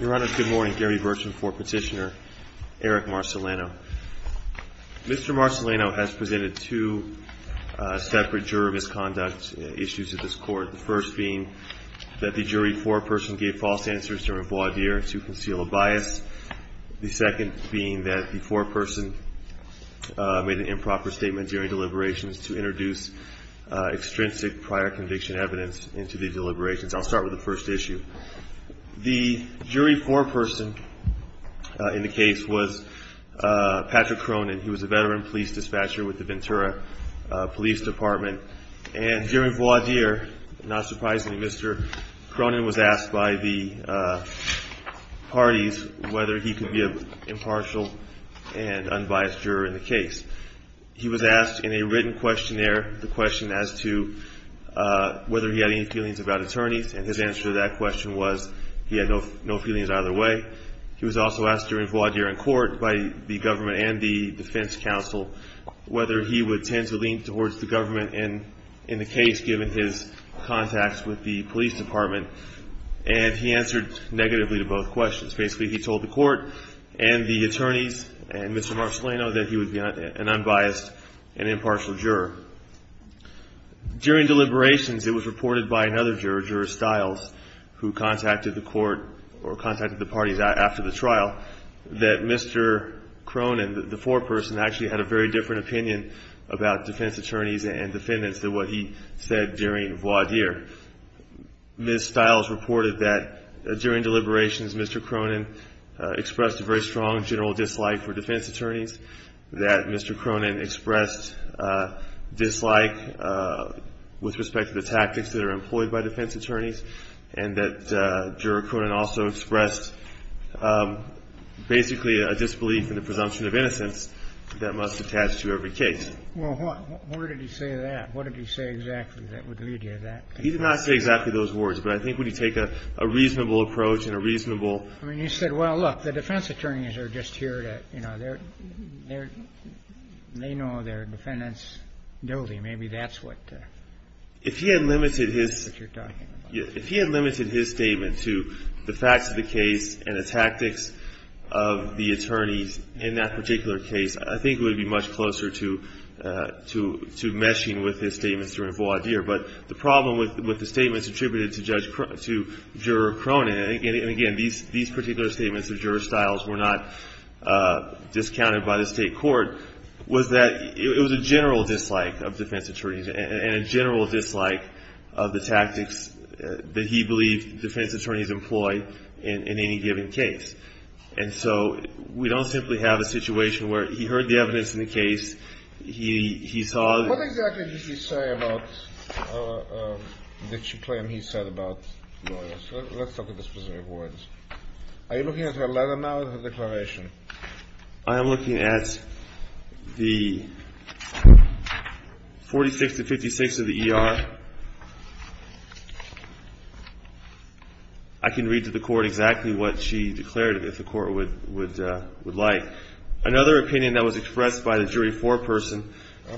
Your Honor, good morning. Gary Burcham for Petitioner, Eric Marceleno. Mr. Marceleno has presented two separate juror misconduct issues to this Court. The first being that the jury foreperson gave false answers during voir dire to conceal a bias. The second being that the foreperson made an improper statement during deliberations to introduce extrinsic prior conviction evidence into the deliberations. I'll start with the first issue. The jury foreperson in the case was Patrick Cronin. He was a veteran police dispatcher with the Ventura Police Department. And during voir dire, not surprisingly, Mr. Cronin was asked by the parties whether he could be an impartial and unbiased juror in the case. He was asked in a written questionnaire the question as to whether he had any feelings about attorneys. And his answer to that question was he had no feelings either way. He was also asked during voir dire in court by the government and the defense counsel whether he would tend to lean towards the government in the case given his contacts with the police department. And he answered negatively to both questions. Basically, he told the court and the attorneys and Mr. Marcellino that he would be an unbiased and impartial juror. During deliberations, it was reported by another juror, Juror Stiles, who contacted the court or contacted the parties after the trial, that Mr. Cronin, the foreperson, actually had a very different opinion about defense attorneys and defendants than what he said during voir dire. Ms. Stiles reported that during deliberations, Mr. Cronin expressed a very strong general dislike for defense attorneys, that Mr. Cronin expressed dislike with respect to the tactics that are employed by defense attorneys, and that Juror Cronin also expressed basically a disbelief in the presumption of innocence that must attach to every case. Well, what? Where did he say that? What did he say exactly that would lead you to that? He did not say exactly those words, but I think when you take a reasonable approach and a reasonable ---- I mean, you said, well, look, the defense attorneys are just here to, you know, they know their defendants' duty. Maybe that's what ---- If he had limited his ---- That's what you're talking about. If he had limited his statement to the facts of the case and the tactics of the attorneys in that particular case, I think it would be much closer to meshing with his statements during voir dire. But the problem with the statements attributed to Juror Cronin, and again, these particular statements of Juror Stiles were not discounted by the state court, was that it was a general dislike of defense attorneys and a general dislike of the tactics that he believed defense attorneys employed in any given case. And so we don't simply have a situation where he heard the evidence in the case, he saw ---- What exactly did he say about ---- did she claim he said about lawyers? Let's look at the specific words. Are you looking at her letter now or her declaration? I am looking at the 46 to 56 of the E.R. I can read to the court exactly what she declared if the court would like. Another opinion that was expressed by the jury foreperson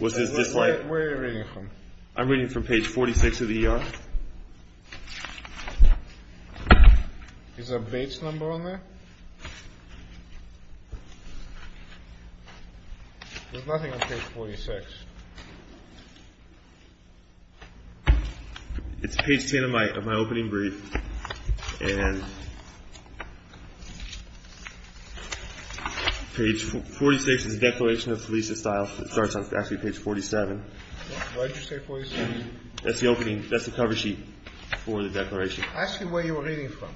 was his dislike ---- Where are you reading from? I'm reading from page 46 of the E.R. Is a Bates number on there? There's nothing on page 46. It's page 10 of my opening brief. And page 46 is a declaration of Felicia Stiles. It starts on actually page 47. Why did you say 47? That's the opening. That's the cover sheet for the declaration. Ask him where you were reading from.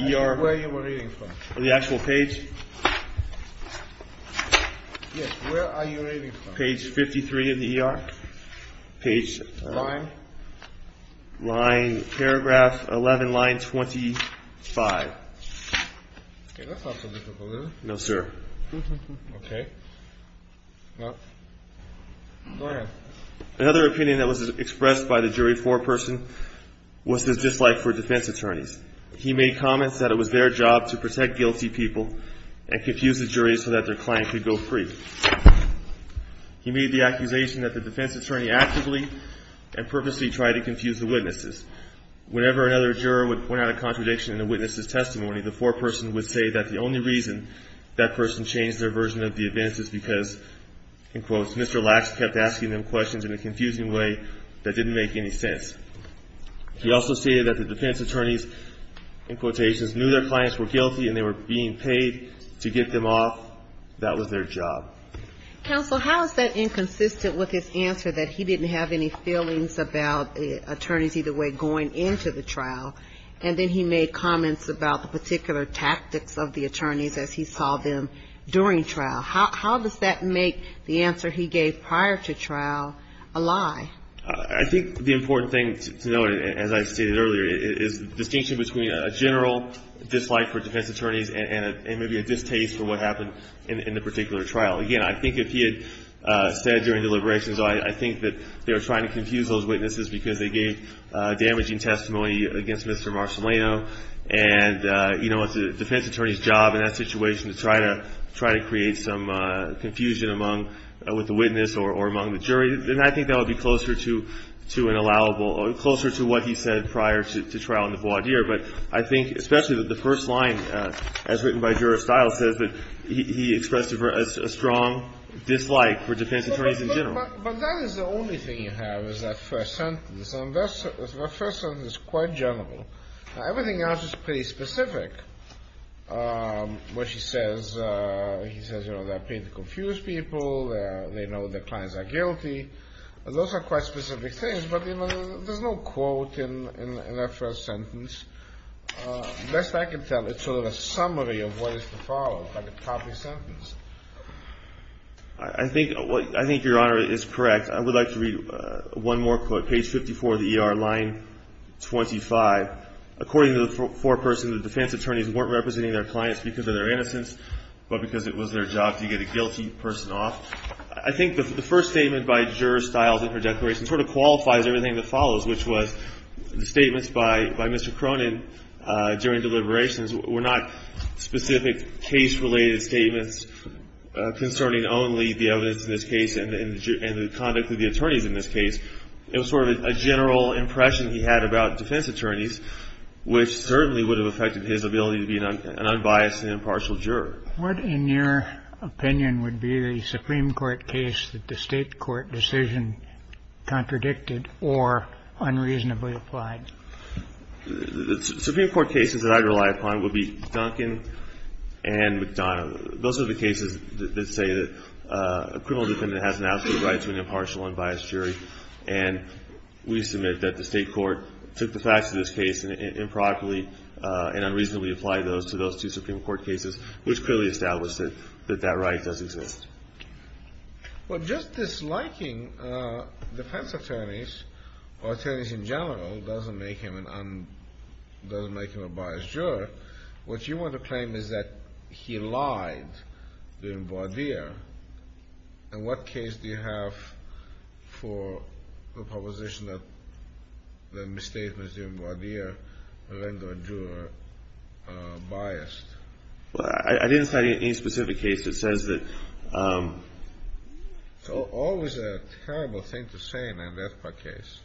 E.R. Where you were reading from. The actual page? Yes, where are you reading from? Page 53 of the E.R. Line? Paragraph 11, line 25. Okay, that's not so difficult, is it? No, sir. Okay. Go ahead. Another opinion that was expressed by the jury foreperson was his dislike for defense attorneys. He made comments that it was their job to protect guilty people and confuse the jury so that their client could go free. He made the accusation that the defense attorney actively and purposely tried to confuse the witnesses. Whenever another juror would point out a contradiction in the witness's testimony, the foreperson would say that the only reason that person changed their version of the evidence is because, in quotes, Mr. Lacks kept asking them questions in a confusing way that didn't make any sense. He also stated that the defense attorneys, in quotations, knew their clients were guilty and they were being paid to get them off. That was their job. Counsel, how is that inconsistent with his answer that he didn't have any feelings about attorneys either way going into the trial? And then he made comments about the particular tactics of the attorneys as he saw them during trial. How does that make the answer he gave prior to trial a lie? I think the important thing to note, as I stated earlier, is the distinction between a general dislike for defense attorneys and maybe a distaste for what happened in the particular trial. Again, I think if he had said during deliberations, I think that they were trying to confuse those witnesses because they gave damaging testimony against Mr. Marcellino. And, you know, it's a defense attorney's job in that situation to try to create some confusion with the witness or among the jury. And I think that would be closer to an allowable or closer to what he said prior to trial in the voir dire. But I think especially that the first line, as written by Juror Stiles, says that he expressed a strong dislike for defense attorneys in general. But that is the only thing you have is that first sentence. And that first sentence is quite general. Everything else is pretty specific, which he says. He says, you know, they're paid to confuse people. They know their clients are guilty. Those are quite specific things, but there's no quote in that first sentence. Best I can tell, it's sort of a summary of what is to follow, like a copy sentence. I think your Honor is correct. I would like to read one more quote, page 54 of the ER, line 25. According to the foreperson, the defense attorneys weren't representing their clients because of their innocence, but because it was their job to get a guilty person off. I think the first statement by Juror Stiles in her declaration sort of qualifies everything that follows, which was the statements by Mr. Cronin during deliberations were not specific case-related statements concerning only the evidence in this case and the conduct of the attorneys in this case. It was sort of a general impression he had about defense attorneys, which certainly would have affected his ability to be an unbiased and impartial juror. What, in your opinion, would be the Supreme Court case that the State court decision contradicted or unreasonably applied? The Supreme Court cases that I rely upon would be Duncan and McDonough. Those are the cases that say that a criminal defendant has an absolute right to be an impartial and unbiased jury, and we submit that the State court took the facts of this case improperly and unreasonably applied those to those two Supreme Court cases, which clearly established that that right does exist. Well, just disliking defense attorneys or attorneys in general doesn't make him a biased juror. What you want to claim is that he lied during Bois d'Ire. In what case do you have for the proposition that the misstatements during Bois d'Ire render a juror biased? Well, I didn't cite any specific case that says that. It's always a terrible thing to say in an FPAC case.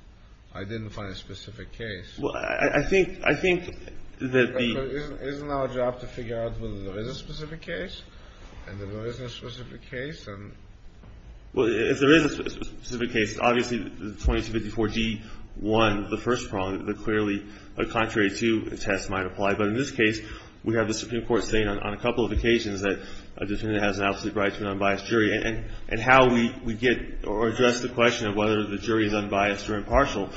I didn't find a specific case. Well, I think that the — Isn't our job to figure out whether there is a specific case and if there isn't a specific case? Well, if there is a specific case, obviously the 2254G1, the first problem, the clearly contrary to test might apply. But in this case, we have the Supreme Court saying on a couple of occasions that a defendant has an absolute right to an unbiased jury. And how we get or address the question of whether the jury is unbiased or impartial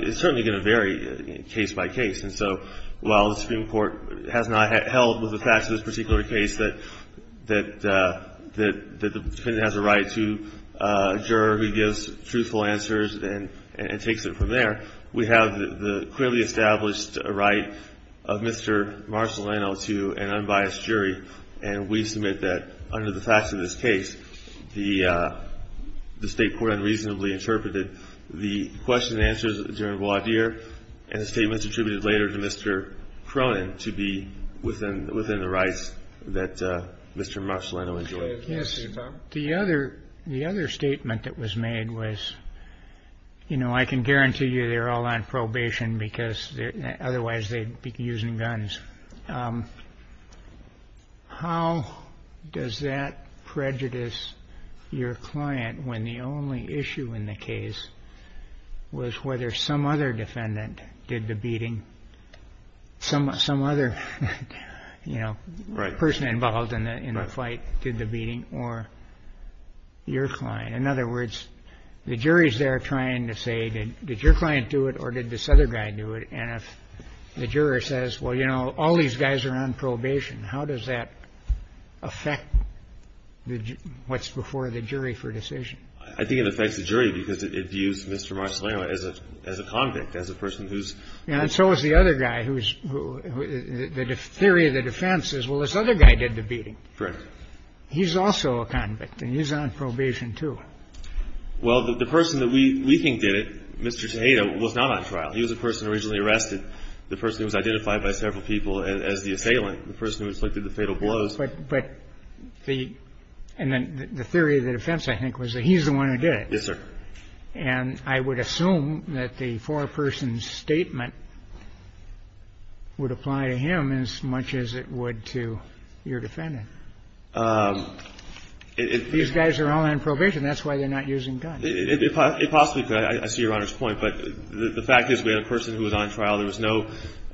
is certainly going to vary case by case. And so while the Supreme Court has not held with the facts of this particular case that the defendant has a right to a juror who gives truthful answers and takes it from there, we have the clearly established right of Mr. Marcellino to an unbiased jury. And we submit that under the facts of this case, the State court unreasonably interpreted the question and answers during Wadeer and the statements attributed later to Mr. Cronin to be within the rights that Mr. Marcellino enjoyed. Yes. The other statement that was made was, you know, I can guarantee you they're all on probation because otherwise they'd be using guns. The question is, how does that prejudice your client when the only issue in the case was whether some other defendant did the beating, some other, you know, person involved in the fight did the beating, or your client? In other words, the jury's there trying to say, did your client do it or did this other guy do it? And if the juror says, well, you know, all these guys are on probation, how does that affect what's before the jury for decision? I think it affects the jury because it views Mr. Marcellino as a convict, as a person who's ---- And so is the other guy who's ---- the theory of the defense is, well, this other guy did the beating. Correct. He's also a convict, and he's on probation, too. Well, the person that we think did it, Mr. Tejeda, was not on trial. He was a person originally arrested, the person who was identified by several people as the assailant, the person who inflicted the fatal blows. But the theory of the defense, I think, was that he's the one who did it. Yes, sir. And I would assume that the four-person statement would apply to him as much as it would to your defendant. These guys are all on probation. That's why they're not using guns. It possibly could. I see Your Honor's point. But the fact is we had a person who was on trial. There was no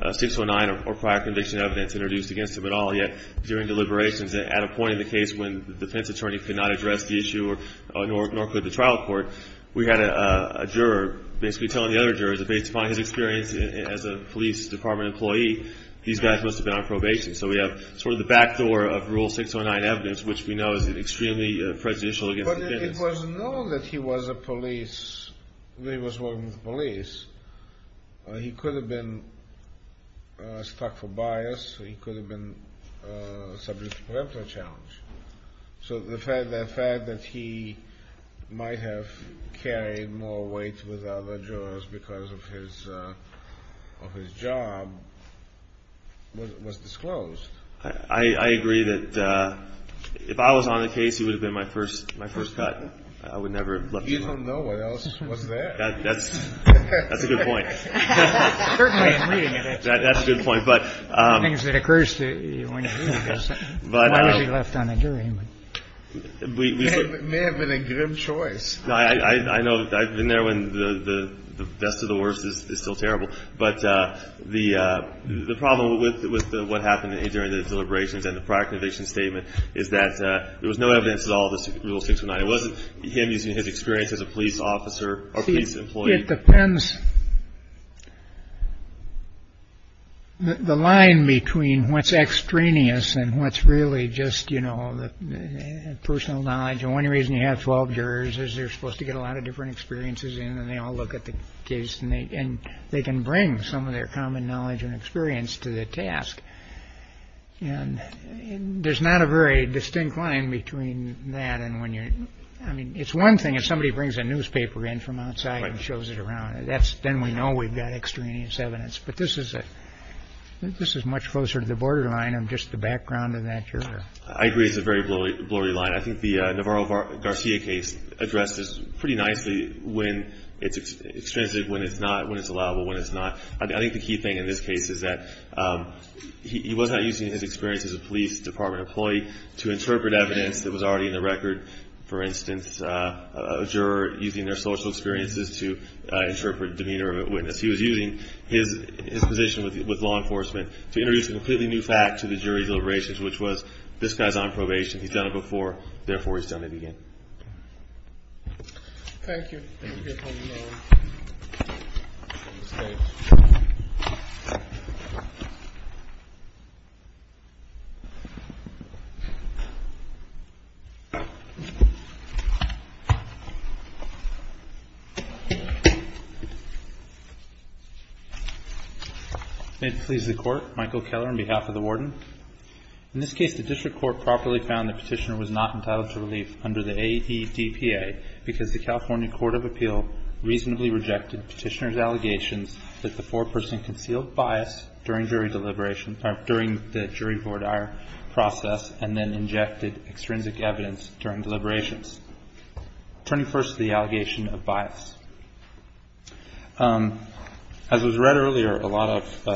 609 or prior conviction evidence introduced against him at all. Yet during deliberations at a point in the case when the defense attorney could not address the issue, nor could the trial court, we had a juror basically telling the other jurors that based upon his experience as a police department employee, these guys must have been on probation. So we have sort of the backdoor of Rule 609 evidence, which we know is extremely prejudicial against defendants. But it was known that he was a police, that he was working with police. He could have been stuck for bias. He could have been subject to preemptive challenge. So the fact that he might have carried more weight with other jurors because of his job was disclosed. I agree that if I was on the case, he would have been my first cut. I would never have left him. You don't know what else was there. That's a good point. That's a good point. Things that occurs to you when you're reading this. Why was he left on a jury? May have been a grim choice. I know. I've been there when the best of the worst is still terrible. But the problem with what happened during the deliberations and the proclamation statement is that there was no evidence at all. It wasn't him using his experience as a police officer or police employee. Depends. The line between what's extraneous and what's really just, you know, personal knowledge. And one reason you have 12 jurors is they're supposed to get a lot of different experiences. And they all look at the case and they can bring some of their common knowledge and experience to the task. And there's not a very distinct line between that and when you're. I mean, it's one thing if somebody brings a newspaper in from outside and shows it around. That's then we know we've got extraneous evidence. But this is it. This is much closer to the borderline of just the background of that. It's a very blurry, blurry line. I think the Navarro-Garcia case addresses pretty nicely when it's extrinsic, when it's not, when it's allowable, when it's not. I think the key thing in this case is that he was not using his experience as a police department employee to interpret evidence that was already in the record. For instance, a juror using their social experiences to interpret demeanor of a witness. He was using his position with law enforcement to introduce a completely new fact to the jury deliberations, which was this guy's on probation. He's done it before. Therefore, he's done it again. Thank you. May it please the Court. Michael Keller on behalf of the Warden. In this case, the district court properly found the petitioner was not entitled to relief under the AEDPA because the California Court of Appeal reasonably rejected petitioner's allegations that the foreperson concealed bias during jury deliberation, during the jury vortire process and then injected extrinsic evidence during deliberations. Turning first to the allegation of bias. As was read earlier, a lot of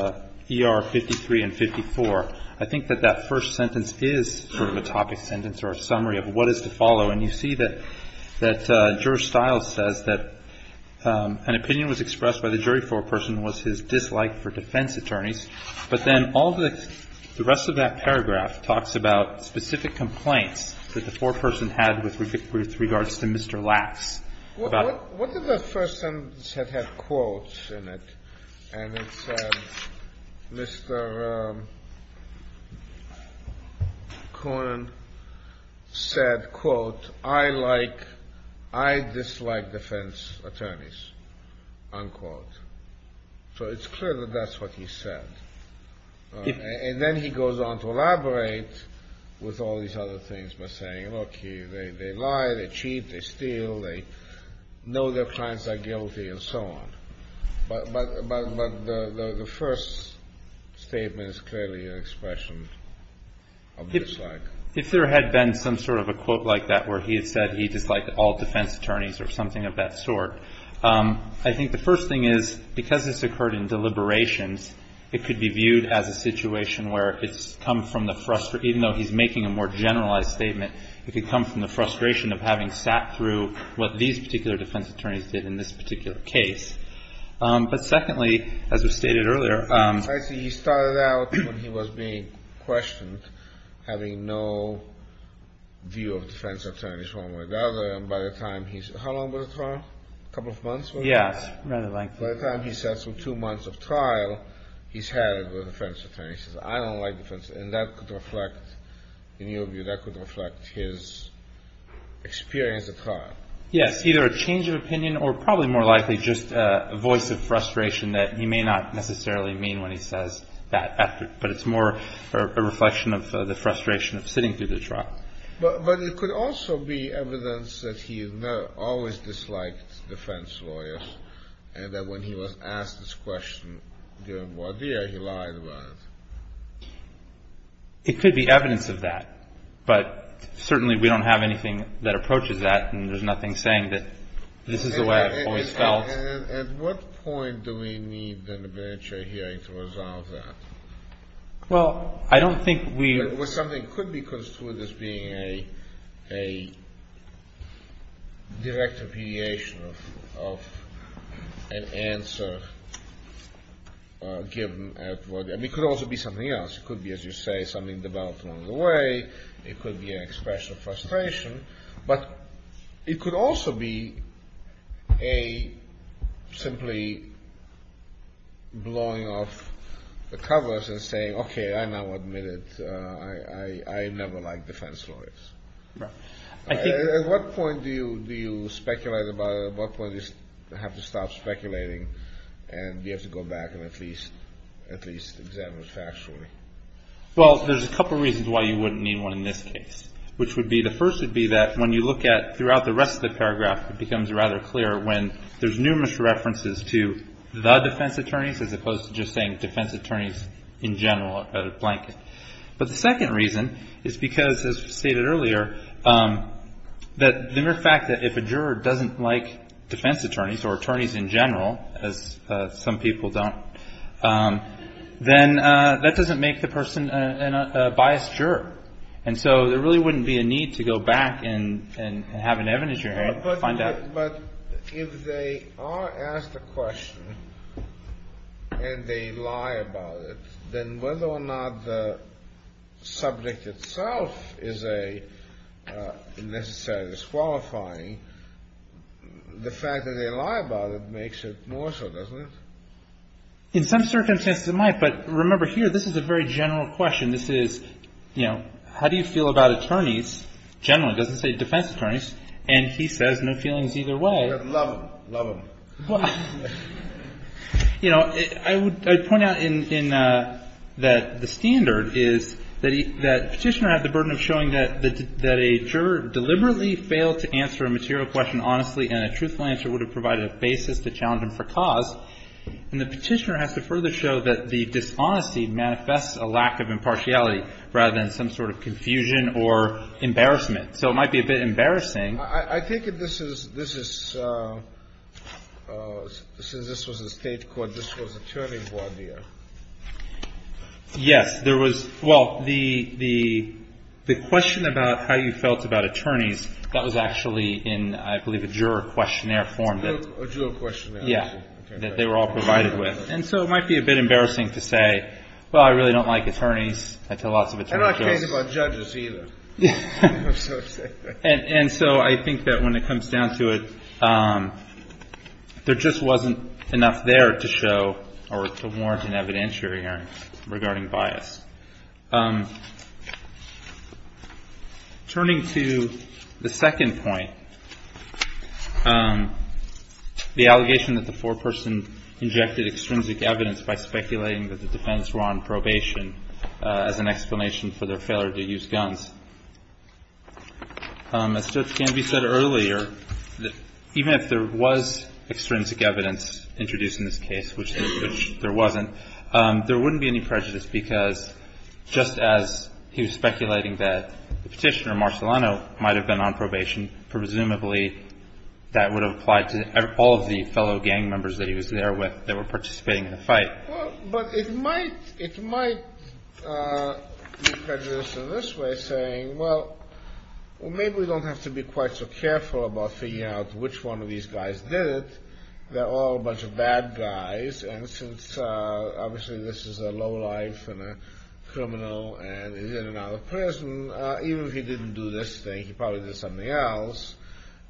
ER 53 and 54, I think that that first sentence is sort of a topic sentence or a summary of what is to follow. And you see that Juror Stiles says that an opinion was expressed by the jury foreperson was his dislike for defense attorneys. But then all the rest of that paragraph talks about specific complaints that the foreperson had with regards to Mr. Lass. What if the first sentence had had quotes in it? And it said, Mr. Cohn said, quote, I dislike defense attorneys, unquote. So it's clear that that's what he said. And then he goes on to elaborate with all these other things by saying, look, they lie, they cheat, they steal, they know their clients are guilty and so on. But the first statement is clearly an expression of dislike. If there had been some sort of a quote like that where he had said he disliked all defense attorneys or something of that sort, I think the first thing is because this occurred in deliberations, it could be viewed as a situation where it's come from the frustration, even though he's making a more generalized statement, it could come from the frustration of having sat through what these particular defense attorneys did in this particular case. But secondly, as was stated earlier. I see he started out when he was being questioned, having no view of defense attorneys one way or the other. And by the time he's, how long was the trial? A couple of months? Yes, rather lengthy. By the time he sat through two months of trial, he's had a defense attorney. He says, I don't like defense attorneys. And that could reflect, in your view, that could reflect his experience at trial. Yes, either a change of opinion or probably more likely just a voice of frustration that he may not necessarily mean when he says that. But it's more a reflection of the frustration of sitting through the trial. But it could also be evidence that he always disliked defense lawyers and that when he was asked this question during voir dire, he lied about it. It could be evidence of that. But certainly we don't have anything that approaches that, and there's nothing saying that this is the way I've always felt. At what point do we need an arbitrary hearing to resolve that? Well, I don't think we – Well, something could be construed as being a direct repudiation of an answer given at voir dire. It could also be something else. It could be, as you say, something developed along the way. But it could also be a simply blowing off the covers and saying, okay, I now admit it. I never liked defense lawyers. At what point do you speculate about it? At what point do you have to stop speculating and do you have to go back and at least examine it factually? Well, there's a couple reasons why you wouldn't need one in this case. Which would be – the first would be that when you look at – throughout the rest of the paragraph, it becomes rather clear when there's numerous references to the defense attorneys as opposed to just saying defense attorneys in general are a blanket. But the second reason is because, as stated earlier, the mere fact that if a juror doesn't like defense attorneys or attorneys in general, as some people don't, then that doesn't make the person a biased juror. And so there really wouldn't be a need to go back and have an evidence jury and find out. But if they are asked a question and they lie about it, then whether or not the subject itself is a necessary disqualifying, the fact that they lie about it makes it more so, doesn't it? In some circumstances, it might. But remember here, this is a very general question. This is, you know, how do you feel about attorneys generally? It doesn't say defense attorneys. And he says no feelings either way. Love them. Love them. You know, I would point out in – that the standard is that Petitioner has the burden of showing that a juror deliberately failed to answer a material question honestly and a truthful answer would have provided a basis to challenge him for cause. And the Petitioner has to further show that the dishonesty manifests a lack of impartiality rather than some sort of confusion or embarrassment. So it might be a bit embarrassing. I think this is – since this was a state court, this was attorney voir dire. Yes. There was – well, the question about how you felt about attorneys, that was actually in, I believe, a juror questionnaire form. A juror questionnaire. Yeah. That they were all provided with. And so it might be a bit embarrassing to say, well, I really don't like attorneys. I tell lots of attorneys this. I don't care about judges either. And so I think that when it comes down to it, there just wasn't enough there to show or to warrant an evidentiary hearing regarding bias. Turning to the second point, the allegation that the foreperson injected extrinsic evidence by speculating that the defendants were on probation as an explanation for their failure to use guns. As Judge Canvey said earlier, even if there was extrinsic evidence introduced in this case, which there wasn't, there wouldn't be any prejudice because just as he was speculating that Petitioner Marcellano might have been on probation, presumably that would have applied to all of the fellow gang members that he was there with that were participating in the fight. But it might be prejudiced in this way, saying, well, maybe we don't have to be quite so careful about figuring out which one of these guys did it. They're all a bunch of bad guys. And since obviously this is a lowlife and a criminal and he's in and out of prison, even if he didn't do this thing, he probably did something else.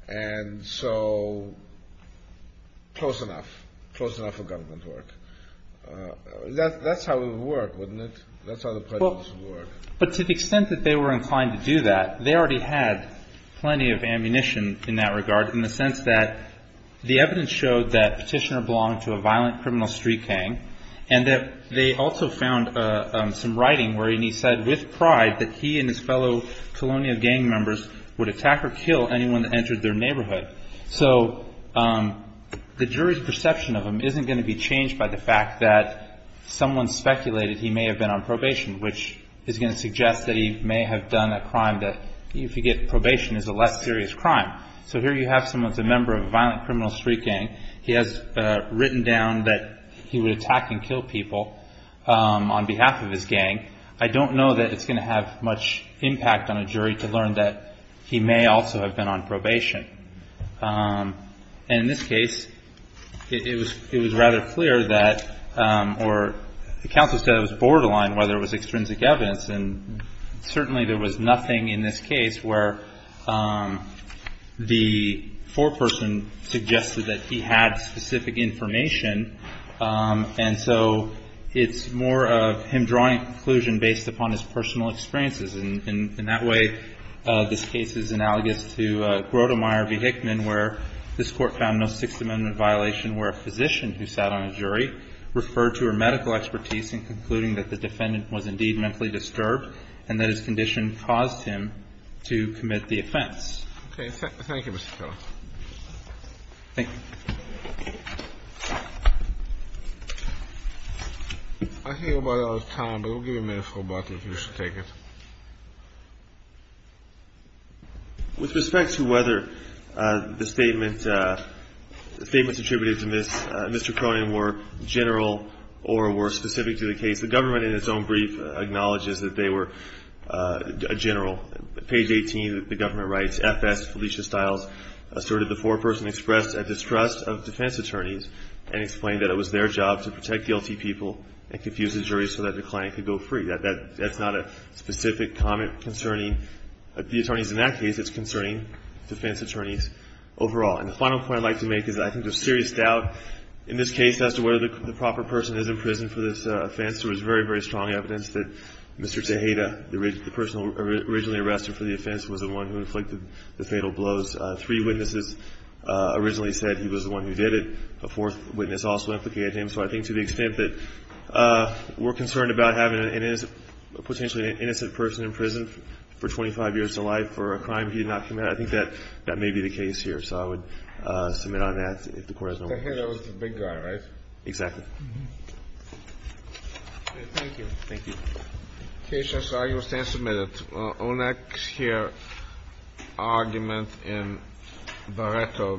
And so close enough. Close enough for government work. That's how it would work, wouldn't it? That's how the prejudice would work. But to the extent that they were inclined to do that, they already had plenty of ammunition in that regard in the sense that the evidence showed that Petitioner belonged to a violent criminal street gang and that they also found some writing where he said with pride that he and his fellow colonial gang members would attack or kill anyone that entered their neighborhood. So the jury's perception of him isn't going to be changed by the fact that someone speculated he may have been on probation, which is going to suggest that he may have done a crime that, if you get probation, is a less serious crime. So here you have someone who's a member of a violent criminal street gang. He has written down that he would attack and kill people on behalf of his gang. I don't know that it's going to have much impact on a jury to learn that he may also have been on probation. And in this case, it was rather clear that, or the counsel said it was borderline whether it was extrinsic evidence. And certainly there was nothing in this case where the foreperson suggested that he had specific information. And so it's more of him drawing a conclusion based upon his personal experiences. And in that way, this case is analogous to Grotemeyer v. Hickman, where this Court found no Sixth Amendment violation where a physician who sat on a jury referred to her medical expertise in concluding that the defendant was indeed mentally disturbed and that his condition caused him to commit the offense. Okay. Thank you, Mr. Kellogg. Thank you. I think we're about out of time. But we'll give you a minute, Mr. O'Batley, if you should take it. With respect to whether the statements attributed to Mr. Cronin were general or were specific to the case, the government in its own brief acknowledges that they were general. Page 18, the government writes, FS Felicia Stiles asserted the foreperson expressed a distrust of defense attorneys and explained that it was their job to protect guilty people and confuse the jury so that the client could go free. That's not a specific comment concerning the attorneys in that case. It's concerning defense attorneys overall. And the final point I'd like to make is I think there's serious doubt in this case as to whether the proper person is in prison for this offense. There was very, very strong evidence that Mr. Tejeda, the person originally arrested for the offense, was the one who inflicted the fatal blows. Three witnesses originally said he was the one who did it. A fourth witness also implicated him. So I think to the extent that we're concerned about having a potentially innocent person in prison for 25 years of life for a crime he did not commit, I think that may be the case here. So I would submit on that if the Court has no more questions. Tejeda was the big guy, right? Exactly. Thank you. Thank you. The case has been submitted. Our next here argument in Baretto v. Giorbino.